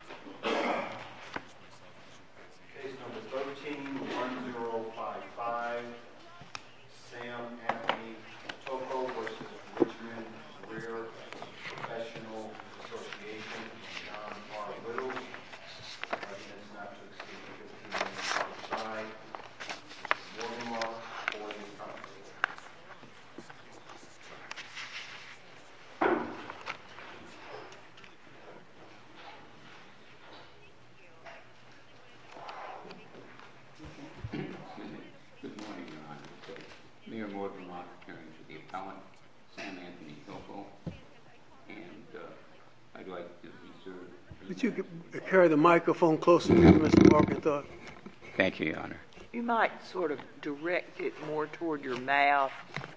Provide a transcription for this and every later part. John R. Littles. The President is not to be seen for 15 minutes outside. Good morning, Mark. Good morning, Congressman. Good morning, Your Honor. Mayor Morgan Lockhart here, and the appellant, Sam Anthony Tocco. Could you carry the microphone closer to you, Mr. Lockhart? Thank you, Your Honor. You might sort of direct it more toward your mouth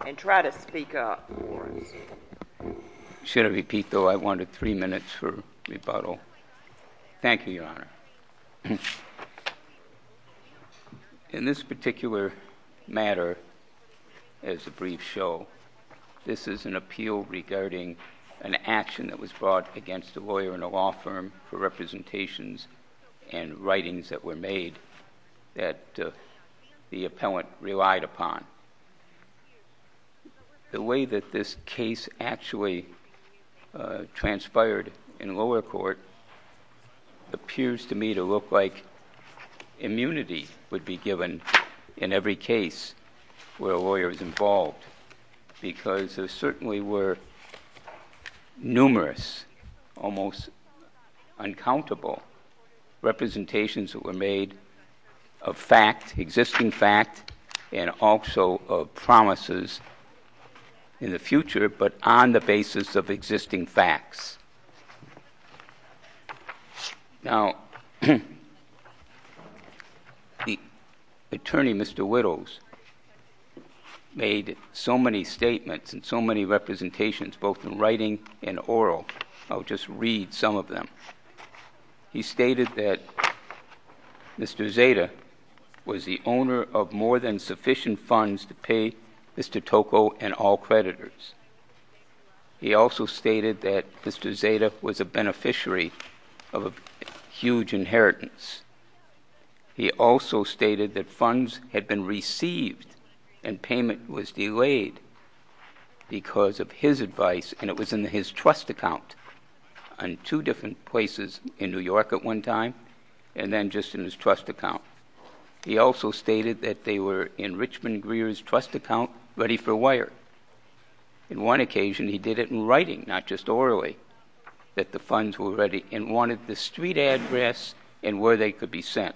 and try to speak up for us. Should I repeat, though? I wanted three minutes for rebuttal. Thank you, Your Honor. In this particular matter, as the briefs show, this is an appeal regarding an action that was brought against a lawyer in a law firm for representations and writings that were made that the appellant relied upon. The way that this case actually transpired in lower court appears to me to look like immunity would be given in every case where a lawyer is involved because there certainly were numerous, almost uncountable representations that were made of fact, existing fact, and also of promises in the future, but on the basis of existing facts. Now, the attorney, Mr. Whittles, made so many statements and so many representations, both in writing and oral. I'll just read some of them. He stated that Mr. Zeta was the owner of more than sufficient funds to pay Mr. Tocco and all creditors. He also stated that Mr. Zeta was a beneficiary of a huge inheritance. He also stated that funds had been received and payment was delayed because of his advice, and it was in his trust account in two different places, in New York at one time and then just in his trust account. He also stated that they were in Richmond Greer's trust account ready for wire. On one occasion, he did it in writing, not just orally, that the funds were ready and wanted the street address and where they could be sent.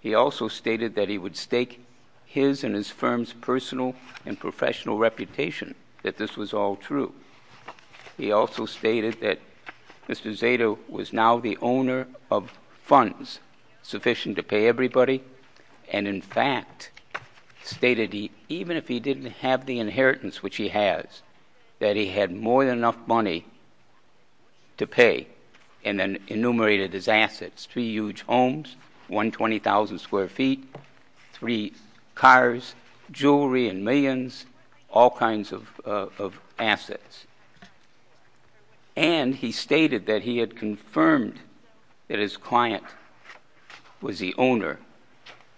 He also stated that he would stake his and his firm's personal and professional reputation, that this was all true. He also stated that Mr. Zeta was now the owner of funds sufficient to pay everybody, and, in fact, stated even if he didn't have the inheritance which he has, that he had more than enough money to pay and then enumerated his assets, three huge homes, 120,000 square feet, three cars, jewelry and millions, all kinds of assets. And he stated that he had confirmed that his client was the owner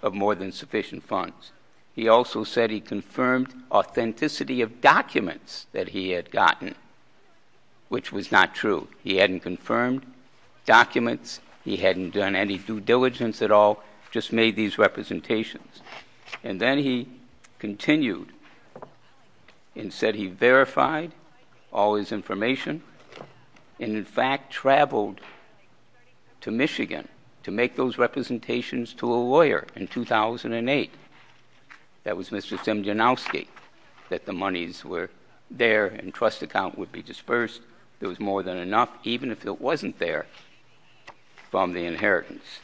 of more than sufficient funds. He also said he confirmed authenticity of documents that he had gotten, which was not true. He hadn't confirmed documents. He hadn't done any due diligence at all, just made these representations. And then he continued and said he verified all his information and, in fact, traveled to Michigan to make those representations to a lawyer in 2008. That was Mr. Simjanovsky, that the monies were there and trust account would be dispersed. There was more than enough, even if it wasn't there, from the inheritance.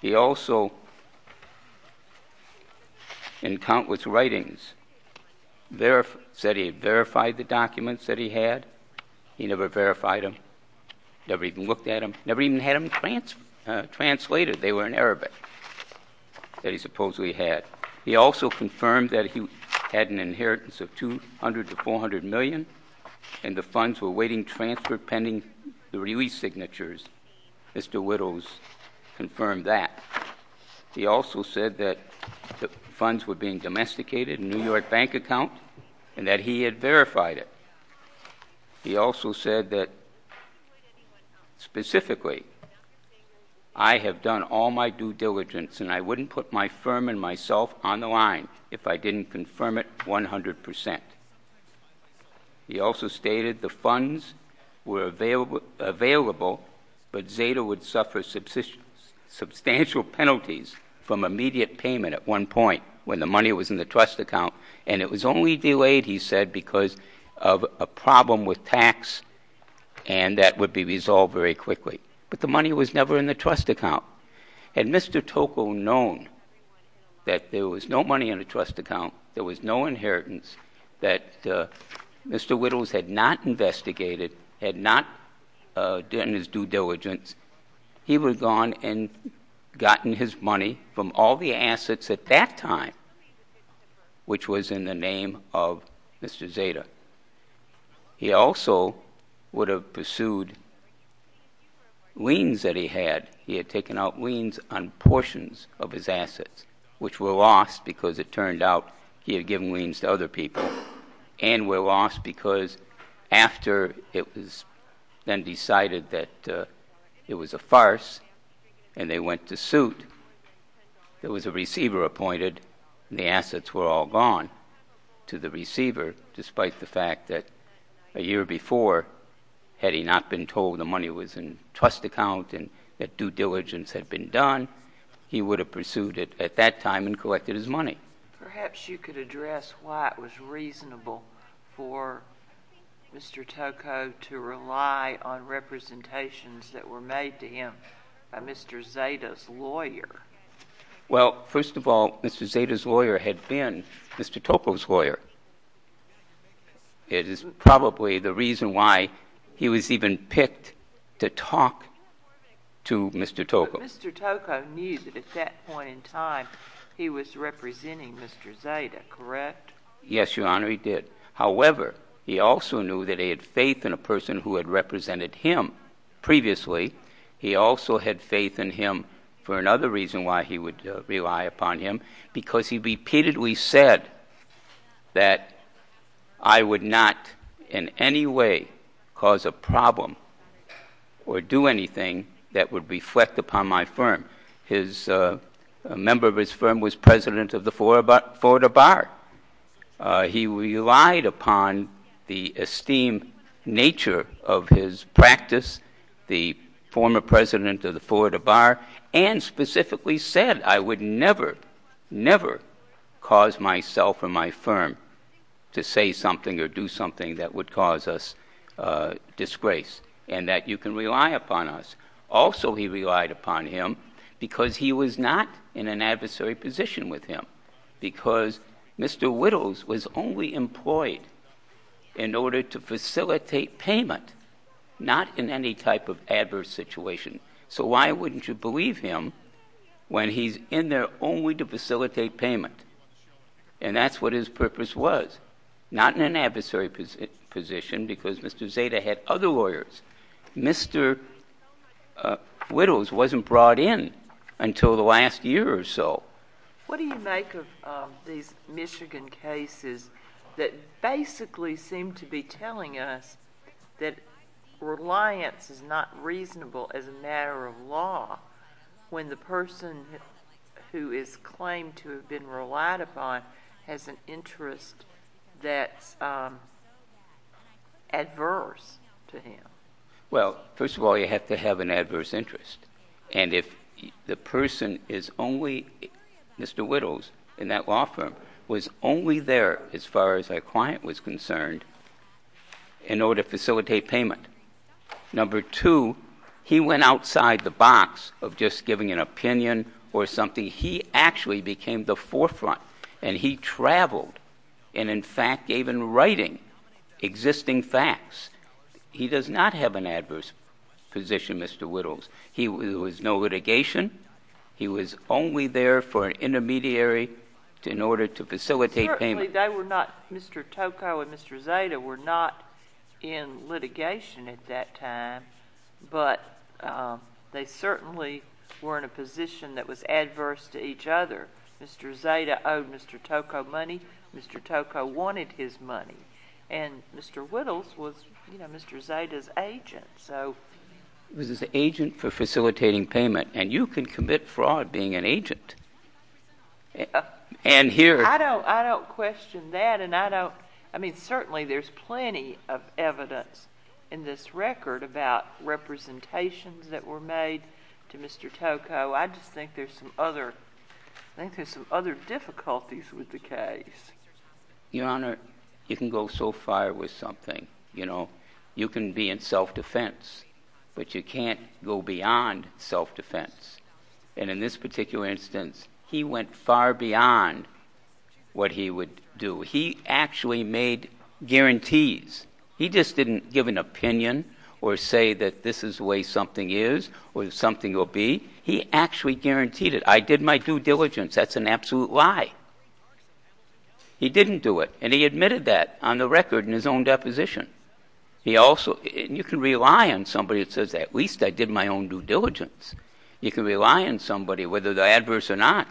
He also, in countless writings, said he verified the documents that he had. He never verified them, never even looked at them, never even had them translated. They were in Arabic that he supposedly had. He also confirmed that he had an inheritance of $200 to $400 million, and the funds were awaiting transfer pending the release signatures. Mr. Whittles confirmed that. He also said that the funds were being domesticated in a New York bank account and that he had verified it. He also said that, specifically, I have done all my due diligence and I wouldn't put my firm and myself on the line if I didn't confirm it 100%. He also stated the funds were available, but Zeta would suffer substantial penalties from immediate payment at one point, when the money was in the trust account, and it was only delayed, he said, because of a problem with tax and that would be resolved very quickly. But the money was never in the trust account. Had Mr. Tocco known that there was no money in the trust account, there was no inheritance, that Mr. Whittles had not investigated, had not done his due diligence, he would have gone and gotten his money from all the assets at that time, which was in the name of Mr. Zeta. He also would have pursued liens that he had. He had taken out liens on portions of his assets, which were lost because it turned out he had given liens to other people, and were lost because after it was then decided that it was a farce and they went to suit, there was a receiver appointed and the assets were all gone to the receiver, despite the fact that a year before, had he not been told the money was in the trust account and that due diligence had been done, he would have pursued it at that time and collected his money. Perhaps you could address why it was reasonable for Mr. Tocco to rely on representations that were made to him by Mr. Zeta's lawyer. Well, first of all, Mr. Zeta's lawyer had been Mr. Tocco's lawyer. It is probably the reason why he was even picked to talk to Mr. Tocco. So Mr. Tocco knew that at that point in time he was representing Mr. Zeta, correct? Yes, Your Honor, he did. However, he also knew that he had faith in a person who had represented him previously. He also had faith in him for another reason why he would rely upon him, because he repeatedly said that I would not in any way cause a problem or do anything that would reflect upon my firm. A member of his firm was president of the Florida Bar. He relied upon the esteemed nature of his practice, the former president of the Florida Bar, and specifically said I would never, never cause myself or my firm to say something or do something that would cause us disgrace, and that you can rely upon us. Also, he relied upon him because he was not in an adversary position with him, because Mr. Whittles was only employed in order to facilitate payment, not in any type of adverse situation. So why wouldn't you believe him when he's in there only to facilitate payment? And that's what his purpose was, not in an adversary position because Mr. Zeta had other lawyers. Mr. Whittles wasn't brought in until the last year or so. What do you make of these Michigan cases that basically seem to be telling us that reliance is not reasonable as a matter of law when the person who is claimed to have been relied upon has an interest that's adverse to him? Well, first of all, you have to have an adverse interest. And if the person is only, Mr. Whittles, in that law firm, was only there as far as their client was concerned in order to facilitate payment, number two, he went outside the box of just giving an opinion or something. He actually became the forefront, and he traveled and, in fact, gave in writing existing facts. He does not have an adverse position, Mr. Whittles. There was no litigation. He was only there for an intermediary in order to facilitate payment. Certainly they were not, Mr. Tocco and Mr. Zeta were not in litigation at that time, but they certainly were in a position that was adverse to each other. Mr. Zeta owed Mr. Tocco money. Mr. Tocco wanted his money. And Mr. Whittles was, you know, Mr. Zeta's agent. He was his agent for facilitating payment, and you can commit fraud being an agent. I don't question that. I mean, certainly there's plenty of evidence in this record about representations that were made to Mr. Tocco. I just think there's some other difficulties with the case. Your Honor, you can go so far with something. You know, you can be in self-defense, but you can't go beyond self-defense. And in this particular instance, he went far beyond what he would do. He actually made guarantees. He just didn't give an opinion or say that this is the way something is or something will be. He actually guaranteed it. I did my due diligence. That's an absolute lie. He didn't do it, and he admitted that on the record in his own deposition. He also, and you can rely on somebody that says at least I did my own due diligence. You can rely on somebody, whether they're adverse or not,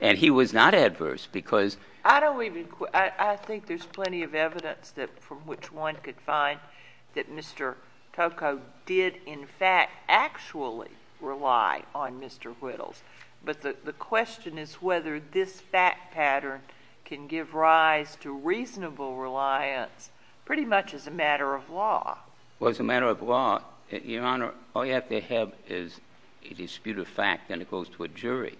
and he was not adverse because... I don't even, I think there's plenty of evidence from which one could find that Mr. Tocco did in fact actually rely on Mr. Whittles. But the question is whether this fact pattern can give rise to reasonable reliance pretty much as a matter of law. Well, as a matter of law, Your Honor, all you have to have is a dispute of fact, and it goes to a jury.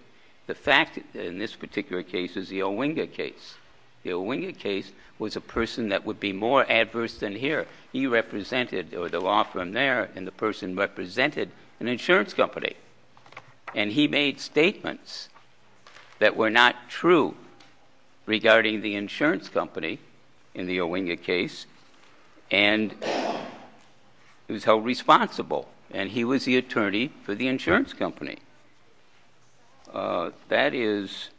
The fact in this particular case is the Owinga case. The Owinga case was a person that would be more adverse than here. He represented, or the law firm there, and the person represented an insurance company. And he made statements that were not true regarding the insurance company in the Owinga case. And he was held responsible, and he was the attorney for the insurance company. That is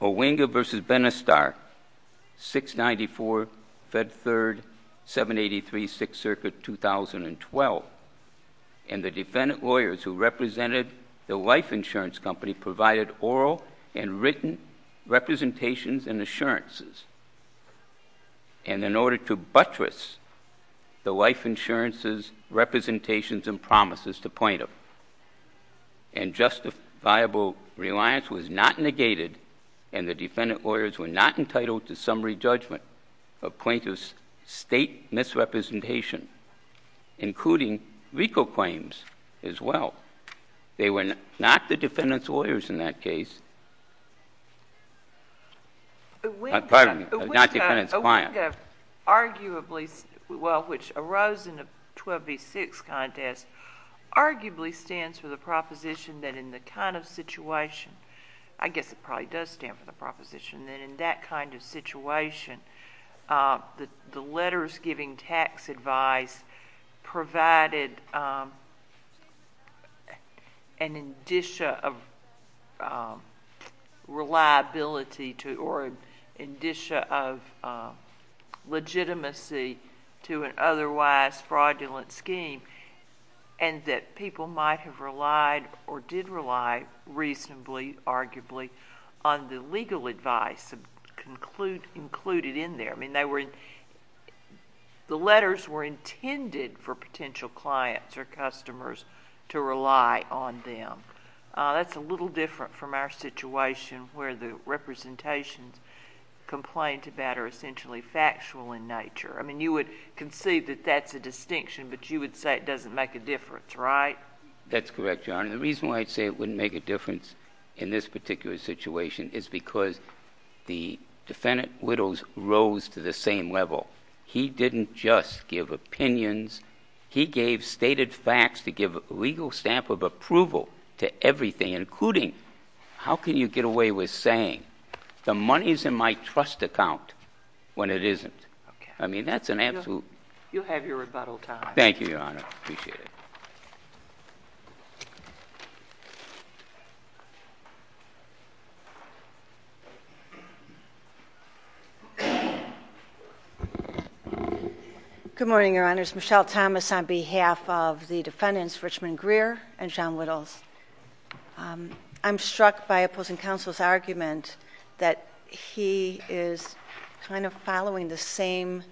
Owinga v. Benistar, 694 Fed 3rd, 783 6th Circuit, 2012. And the defendant lawyers who represented the life insurance company provided oral and written representations and assurances. And in order to buttress the life insurance's representations and promises to plaintiff, and justifiable reliance was not negated, and the defendant lawyers were not entitled to summary judgment of plaintiff's state misrepresentation, including legal claims as well. They were not the defendant's lawyers in that case. Pardon me. Not the defendant's client. Owinga, arguably, well, which arose in the 12 v. 6 contest, arguably stands for the proposition that in the kind of situation, I guess it probably does stand for the proposition that in that kind of situation, the letters giving tax advice provided an indicia of reliability or indicia of legitimacy to an otherwise fraudulent scheme, and that people might have relied or did rely reasonably, arguably, on the legal advice included in there. I mean, the letters were intended for potential clients or customers to rely on them. That's a little different from our situation where the representations complained about are essentially factual in nature. I mean, you would conceive that that's a distinction, but you would say it doesn't make a difference, right? That's correct, Your Honor. The reason why I'd say it wouldn't make a difference in this particular situation is because the defendant widows rose to the same level. He didn't just give opinions. He gave stated facts to give a legal stamp of approval to everything, including how can you get away with saying the money's in my trust account when it isn't? I mean, that's an absolute... You'll have your rebuttal time. Thank you, Your Honor. I appreciate it. Good morning, Your Honors. Michelle Thomas on behalf of the defendants, Richmond Greer and John Whittles. I'm struck by opposing counsel's argument that he is kind of following the same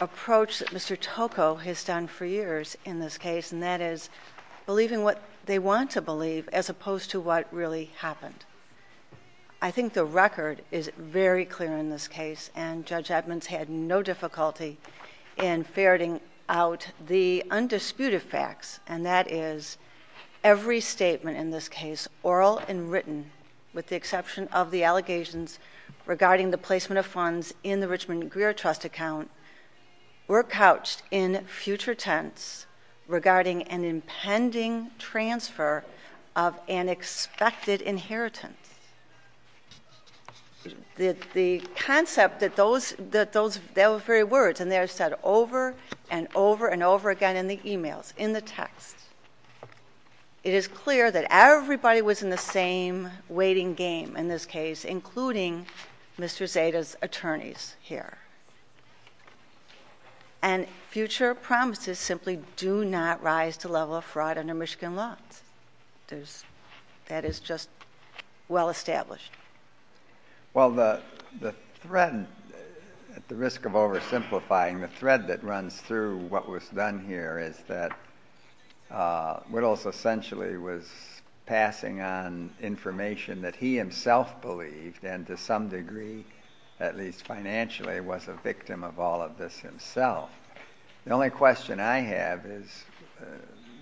approach that Mr. Toko has done for years in this case, and that is believing what they want to believe as opposed to what really happened. I think the record is very clear in this case, and Judge Edmonds had no difficulty in ferreting out the undisputed facts, and that is every statement in this case, oral and written, with the exception of the allegations regarding the placement of funds in the Richmond Greer trust account, were couched in future tense regarding an impending transfer of an expected inheritance. The concept that those very words, and they are said over and over and over again in the e-mails, in the text, it is clear that everybody was in the same waiting game in this case, including Mr. Zeta's attorneys here. And future promises simply do not rise to the level of fraud under Michigan laws. That is just well established. Well, the thread, at the risk of oversimplifying the thread that runs through what was done here, is that Whittles essentially was passing on information that he himself believed, and to some degree, at least financially, was a victim of all of this himself. The only question I have is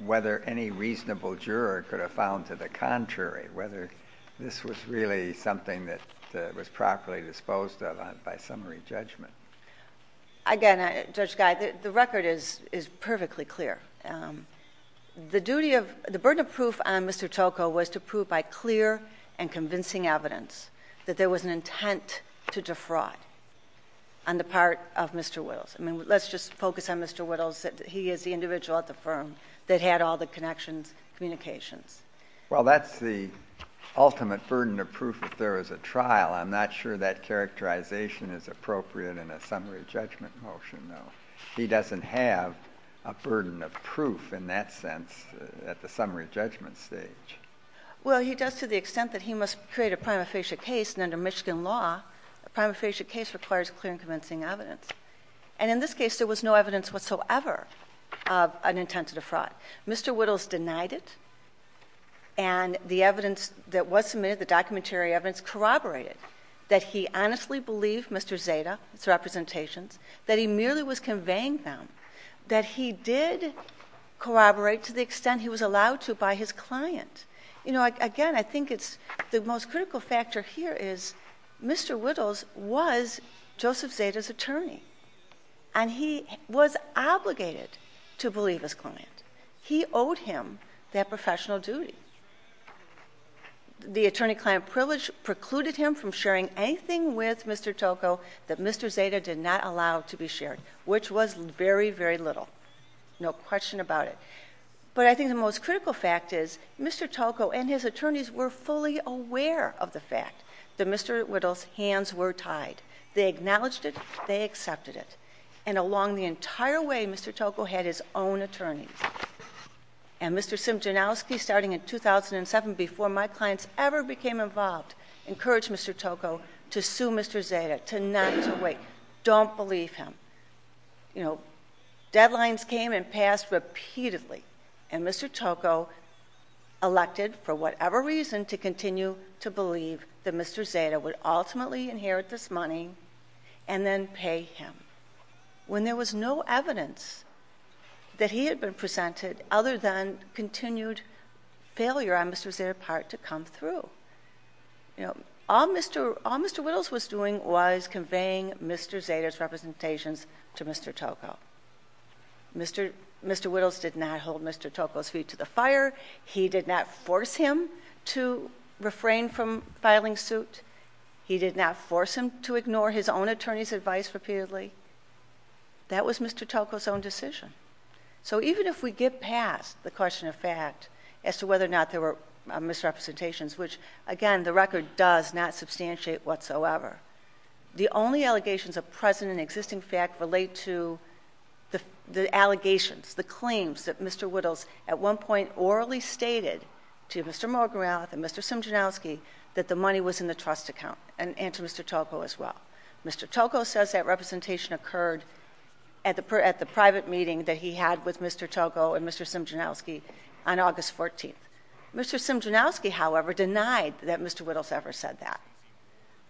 whether any reasonable juror could have found to the contrary, whether this was really something that was properly disposed of by summary judgment. Again, Judge Guy, the record is perfectly clear. The burden of proof on Mr. Tocco was to prove by clear and convincing evidence that there was an intent to defraud on the part of Mr. Whittles. I mean, let's just focus on Mr. Whittles. He is the individual at the firm that had all the connections, communications. Well, that's the ultimate burden of proof if there is a trial. I'm not sure that characterization is appropriate in a summary judgment motion, though. He doesn't have a burden of proof in that sense at the summary judgment stage. Well, he does to the extent that he must create a prima facie case, and under Michigan law, a prima facie case requires clear and convincing evidence. And in this case, there was no evidence whatsoever of an intent to defraud. Mr. Whittles denied it, and the evidence that was submitted, the documentary evidence, corroborated that he honestly believed Mr. Zeta, his representations, that he merely was conveying them, that he did corroborate to the extent he was allowed to by his client. You know, again, I think it's the most critical factor here is Mr. Whittles was Joseph Zeta's attorney, and he was obligated to believe his client. He owed him that professional duty. The attorney-client privilege precluded him from sharing anything with Mr. Toko that Mr. Zeta did not allow to be shared, which was very, very little, no question about it. But I think the most critical fact is Mr. Toko and his attorneys were fully aware of the fact that Mr. Whittles' hands were tied. They acknowledged it. They accepted it. And along the entire way, Mr. Toko had his own attorneys. And Mr. Simchonowski, starting in 2007, before my clients ever became involved, encouraged Mr. Toko to sue Mr. Zeta, to not to wait. Don't believe him. You know, deadlines came and passed repeatedly, and Mr. Toko elected for whatever reason to continue to believe that Mr. Zeta would ultimately inherit this money and then pay him when there was no evidence that he had been presented other than continued failure on Mr. Zeta's part to come through. All Mr. Whittles was doing was conveying Mr. Zeta's representations to Mr. Toko. Mr. Whittles did not hold Mr. Toko's feet to the fire. He did not force him to refrain from filing suit. He did not force him to ignore his own attorney's advice repeatedly. That was Mr. Toko's own decision. So even if we get past the question of fact as to whether or not there were misrepresentations, which, again, the record does not substantiate whatsoever, the only allegations of present and existing fact relate to the allegations, the claims that Mr. Whittles at one point orally stated to Mr. Morgenrath and Mr. Simchonowski that the money was in the trust account and to Mr. Toko as well. Mr. Toko says that representation occurred at the private meeting that he had with Mr. Toko and Mr. Simchonowski on August 14th. Mr. Simchonowski, however, denied that Mr. Whittles ever said that.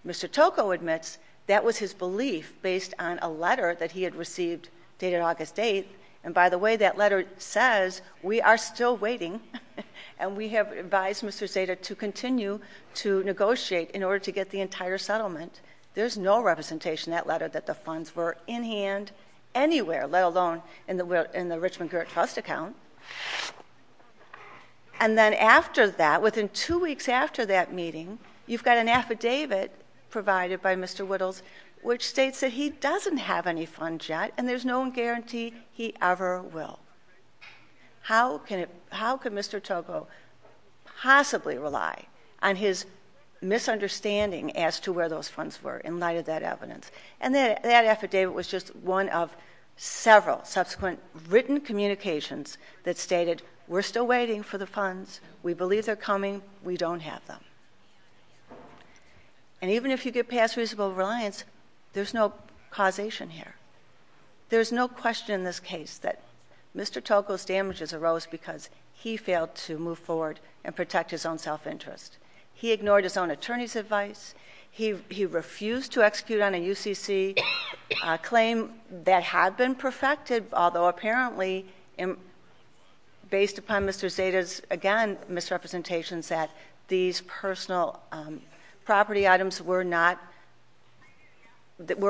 Mr. Toko admits that was his belief based on a letter that he had received dated August 8th. And by the way, that letter says we are still waiting and we have advised Mr. Zeta to continue to negotiate in order to get the entire settlement. There's no representation in that letter that the funds were in hand anywhere, let alone in the Richmond Girt Trust account. And then after that, within two weeks after that meeting, you've got an affidavit provided by Mr. Whittles which states that he doesn't have any funds yet and there's no guarantee he ever will. How could Mr. Toko possibly rely on his misunderstanding as to where those funds were in light of that evidence? And that affidavit was just one of several subsequent written communications that stated, we're still waiting for the funds, we believe they're coming, we don't have them. And even if you get past reasonable reliance, there's no causation here. There's no question in this case that Mr. Toko's damages arose because he failed to move forward and protect his own self-interest. He ignored his own attorney's advice. He refused to execute on a UCC claim that had been perfected, although apparently based upon Mr. Zeta's, again, misrepresentations, that these personal property items were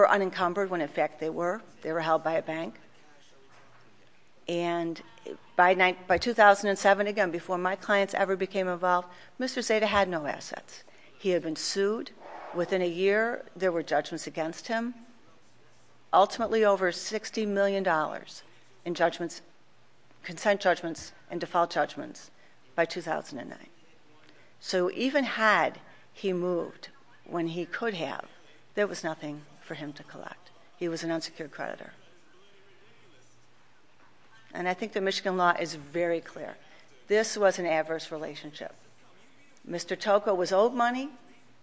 unencumbered when in fact they were. They were held by a bank. And by 2007, again, before my clients ever became involved, Mr. Zeta had no assets. He had been sued. Within a year, there were judgments against him, ultimately over $60 million in consent judgments and default judgments by 2009. So even had he moved when he could have, there was nothing for him to collect. He was an unsecured creditor. And I think the Michigan law is very clear. This was an adverse relationship. Mr. Toko was owed money.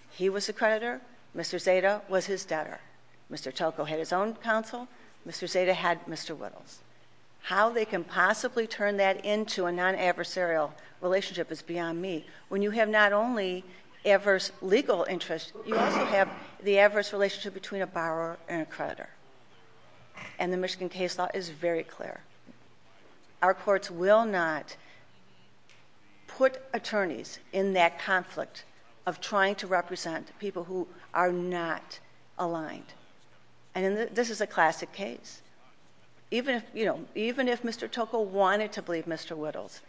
He was a creditor. Mr. Zeta was his debtor. Mr. Toko had his own counsel. Mr. Zeta had Mr. Whittles. How they can possibly turn that into a non-adversarial relationship is beyond me. When you have not only adverse legal interest, you also have the adverse relationship between a borrower and a creditor. And the Michigan case law is very clear. Our courts will not put attorneys in that conflict of trying to represent people who are not aligned. And this is a classic case. Even if Mr. Toko wanted to believe Mr. Whittles,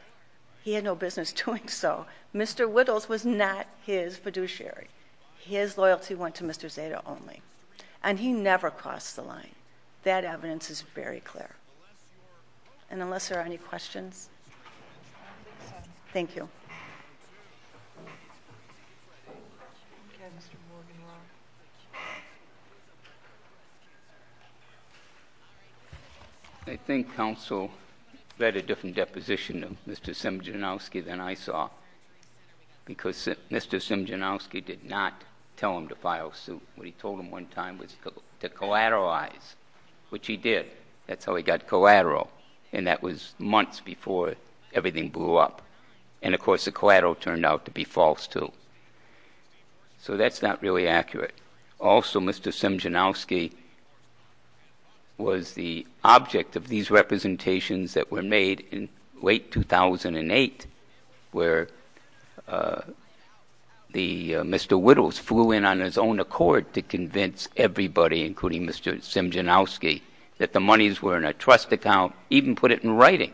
he had no business doing so. Mr. Whittles was not his fiduciary. His loyalty went to Mr. Zeta only. And he never crossed the line. That evidence is very clear. And unless there are any questions. Thank you. I think counsel read a different deposition of Mr. Simjanovski than I saw because Mr. Simjanovski did not tell him to file suit. What he told him one time was to collateralize, which he did. That's how he got collateral. And that was months before everything blew up. And, of course, the collateral turned out to be false too. So that's not really accurate. Also, Mr. Simjanovski was the object of these representations that were made in late 2008 where Mr. Whittles flew in on his own accord to convince everybody, including Mr. Simjanovski, that the monies were in a trust account, even put it in writing.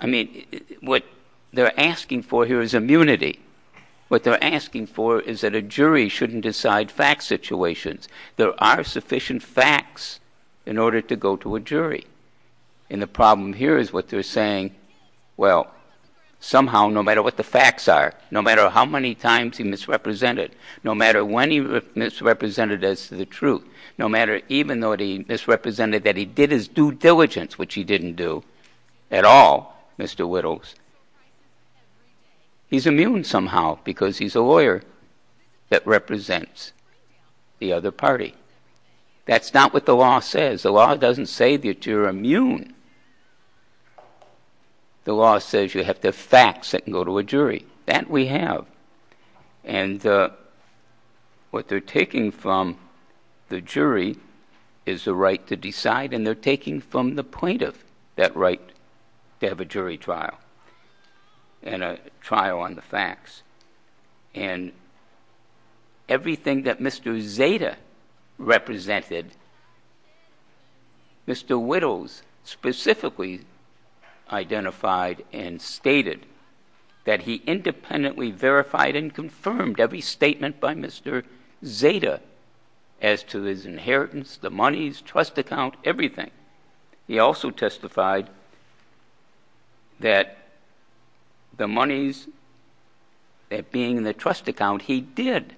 I mean, what they're asking for here is immunity. What they're asking for is that a jury shouldn't decide fact situations. There are sufficient facts in order to go to a jury. And the problem here is what they're saying. Well, somehow, no matter what the facts are, no matter how many times he misrepresented, no matter when he misrepresented as to the truth, no matter even though he misrepresented that he did his due diligence, which he didn't do at all, Mr. Whittles, he's immune somehow because he's a lawyer that represents the other party. That's not what the law says. The law doesn't say that you're immune. The law says you have to have facts that can go to a jury. That we have. And what they're taking from the jury is the right to decide, and they're taking from the plaintiff that right to have a jury trial and a trial on the facts. And everything that Mr. Zeta represented, Mr. Whittles specifically identified and stated that he independently verified and confirmed every statement by Mr. Zeta as to his inheritance, the monies, trust account, everything. He also testified that the monies that being in the trust account he did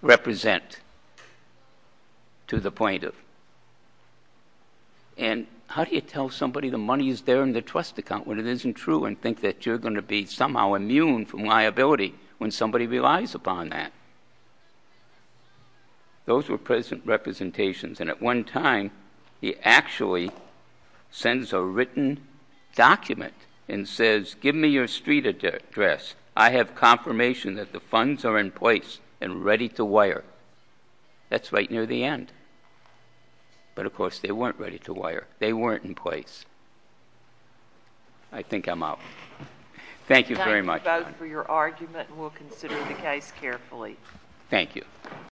represent to the plaintiff. And how do you tell somebody the money is there in the trust account when it isn't true and think that you're going to be somehow immune from liability when somebody relies upon that? Those were present representations. And at one time, he actually sends a written document and says, give me your street address. I have confirmation that the funds are in place and ready to wire. That's right near the end. But, of course, they weren't ready to wire. They weren't in place. I think I'm out. Thank you very much. Time to vote for your argument, and we'll consider the case carefully. Thank you.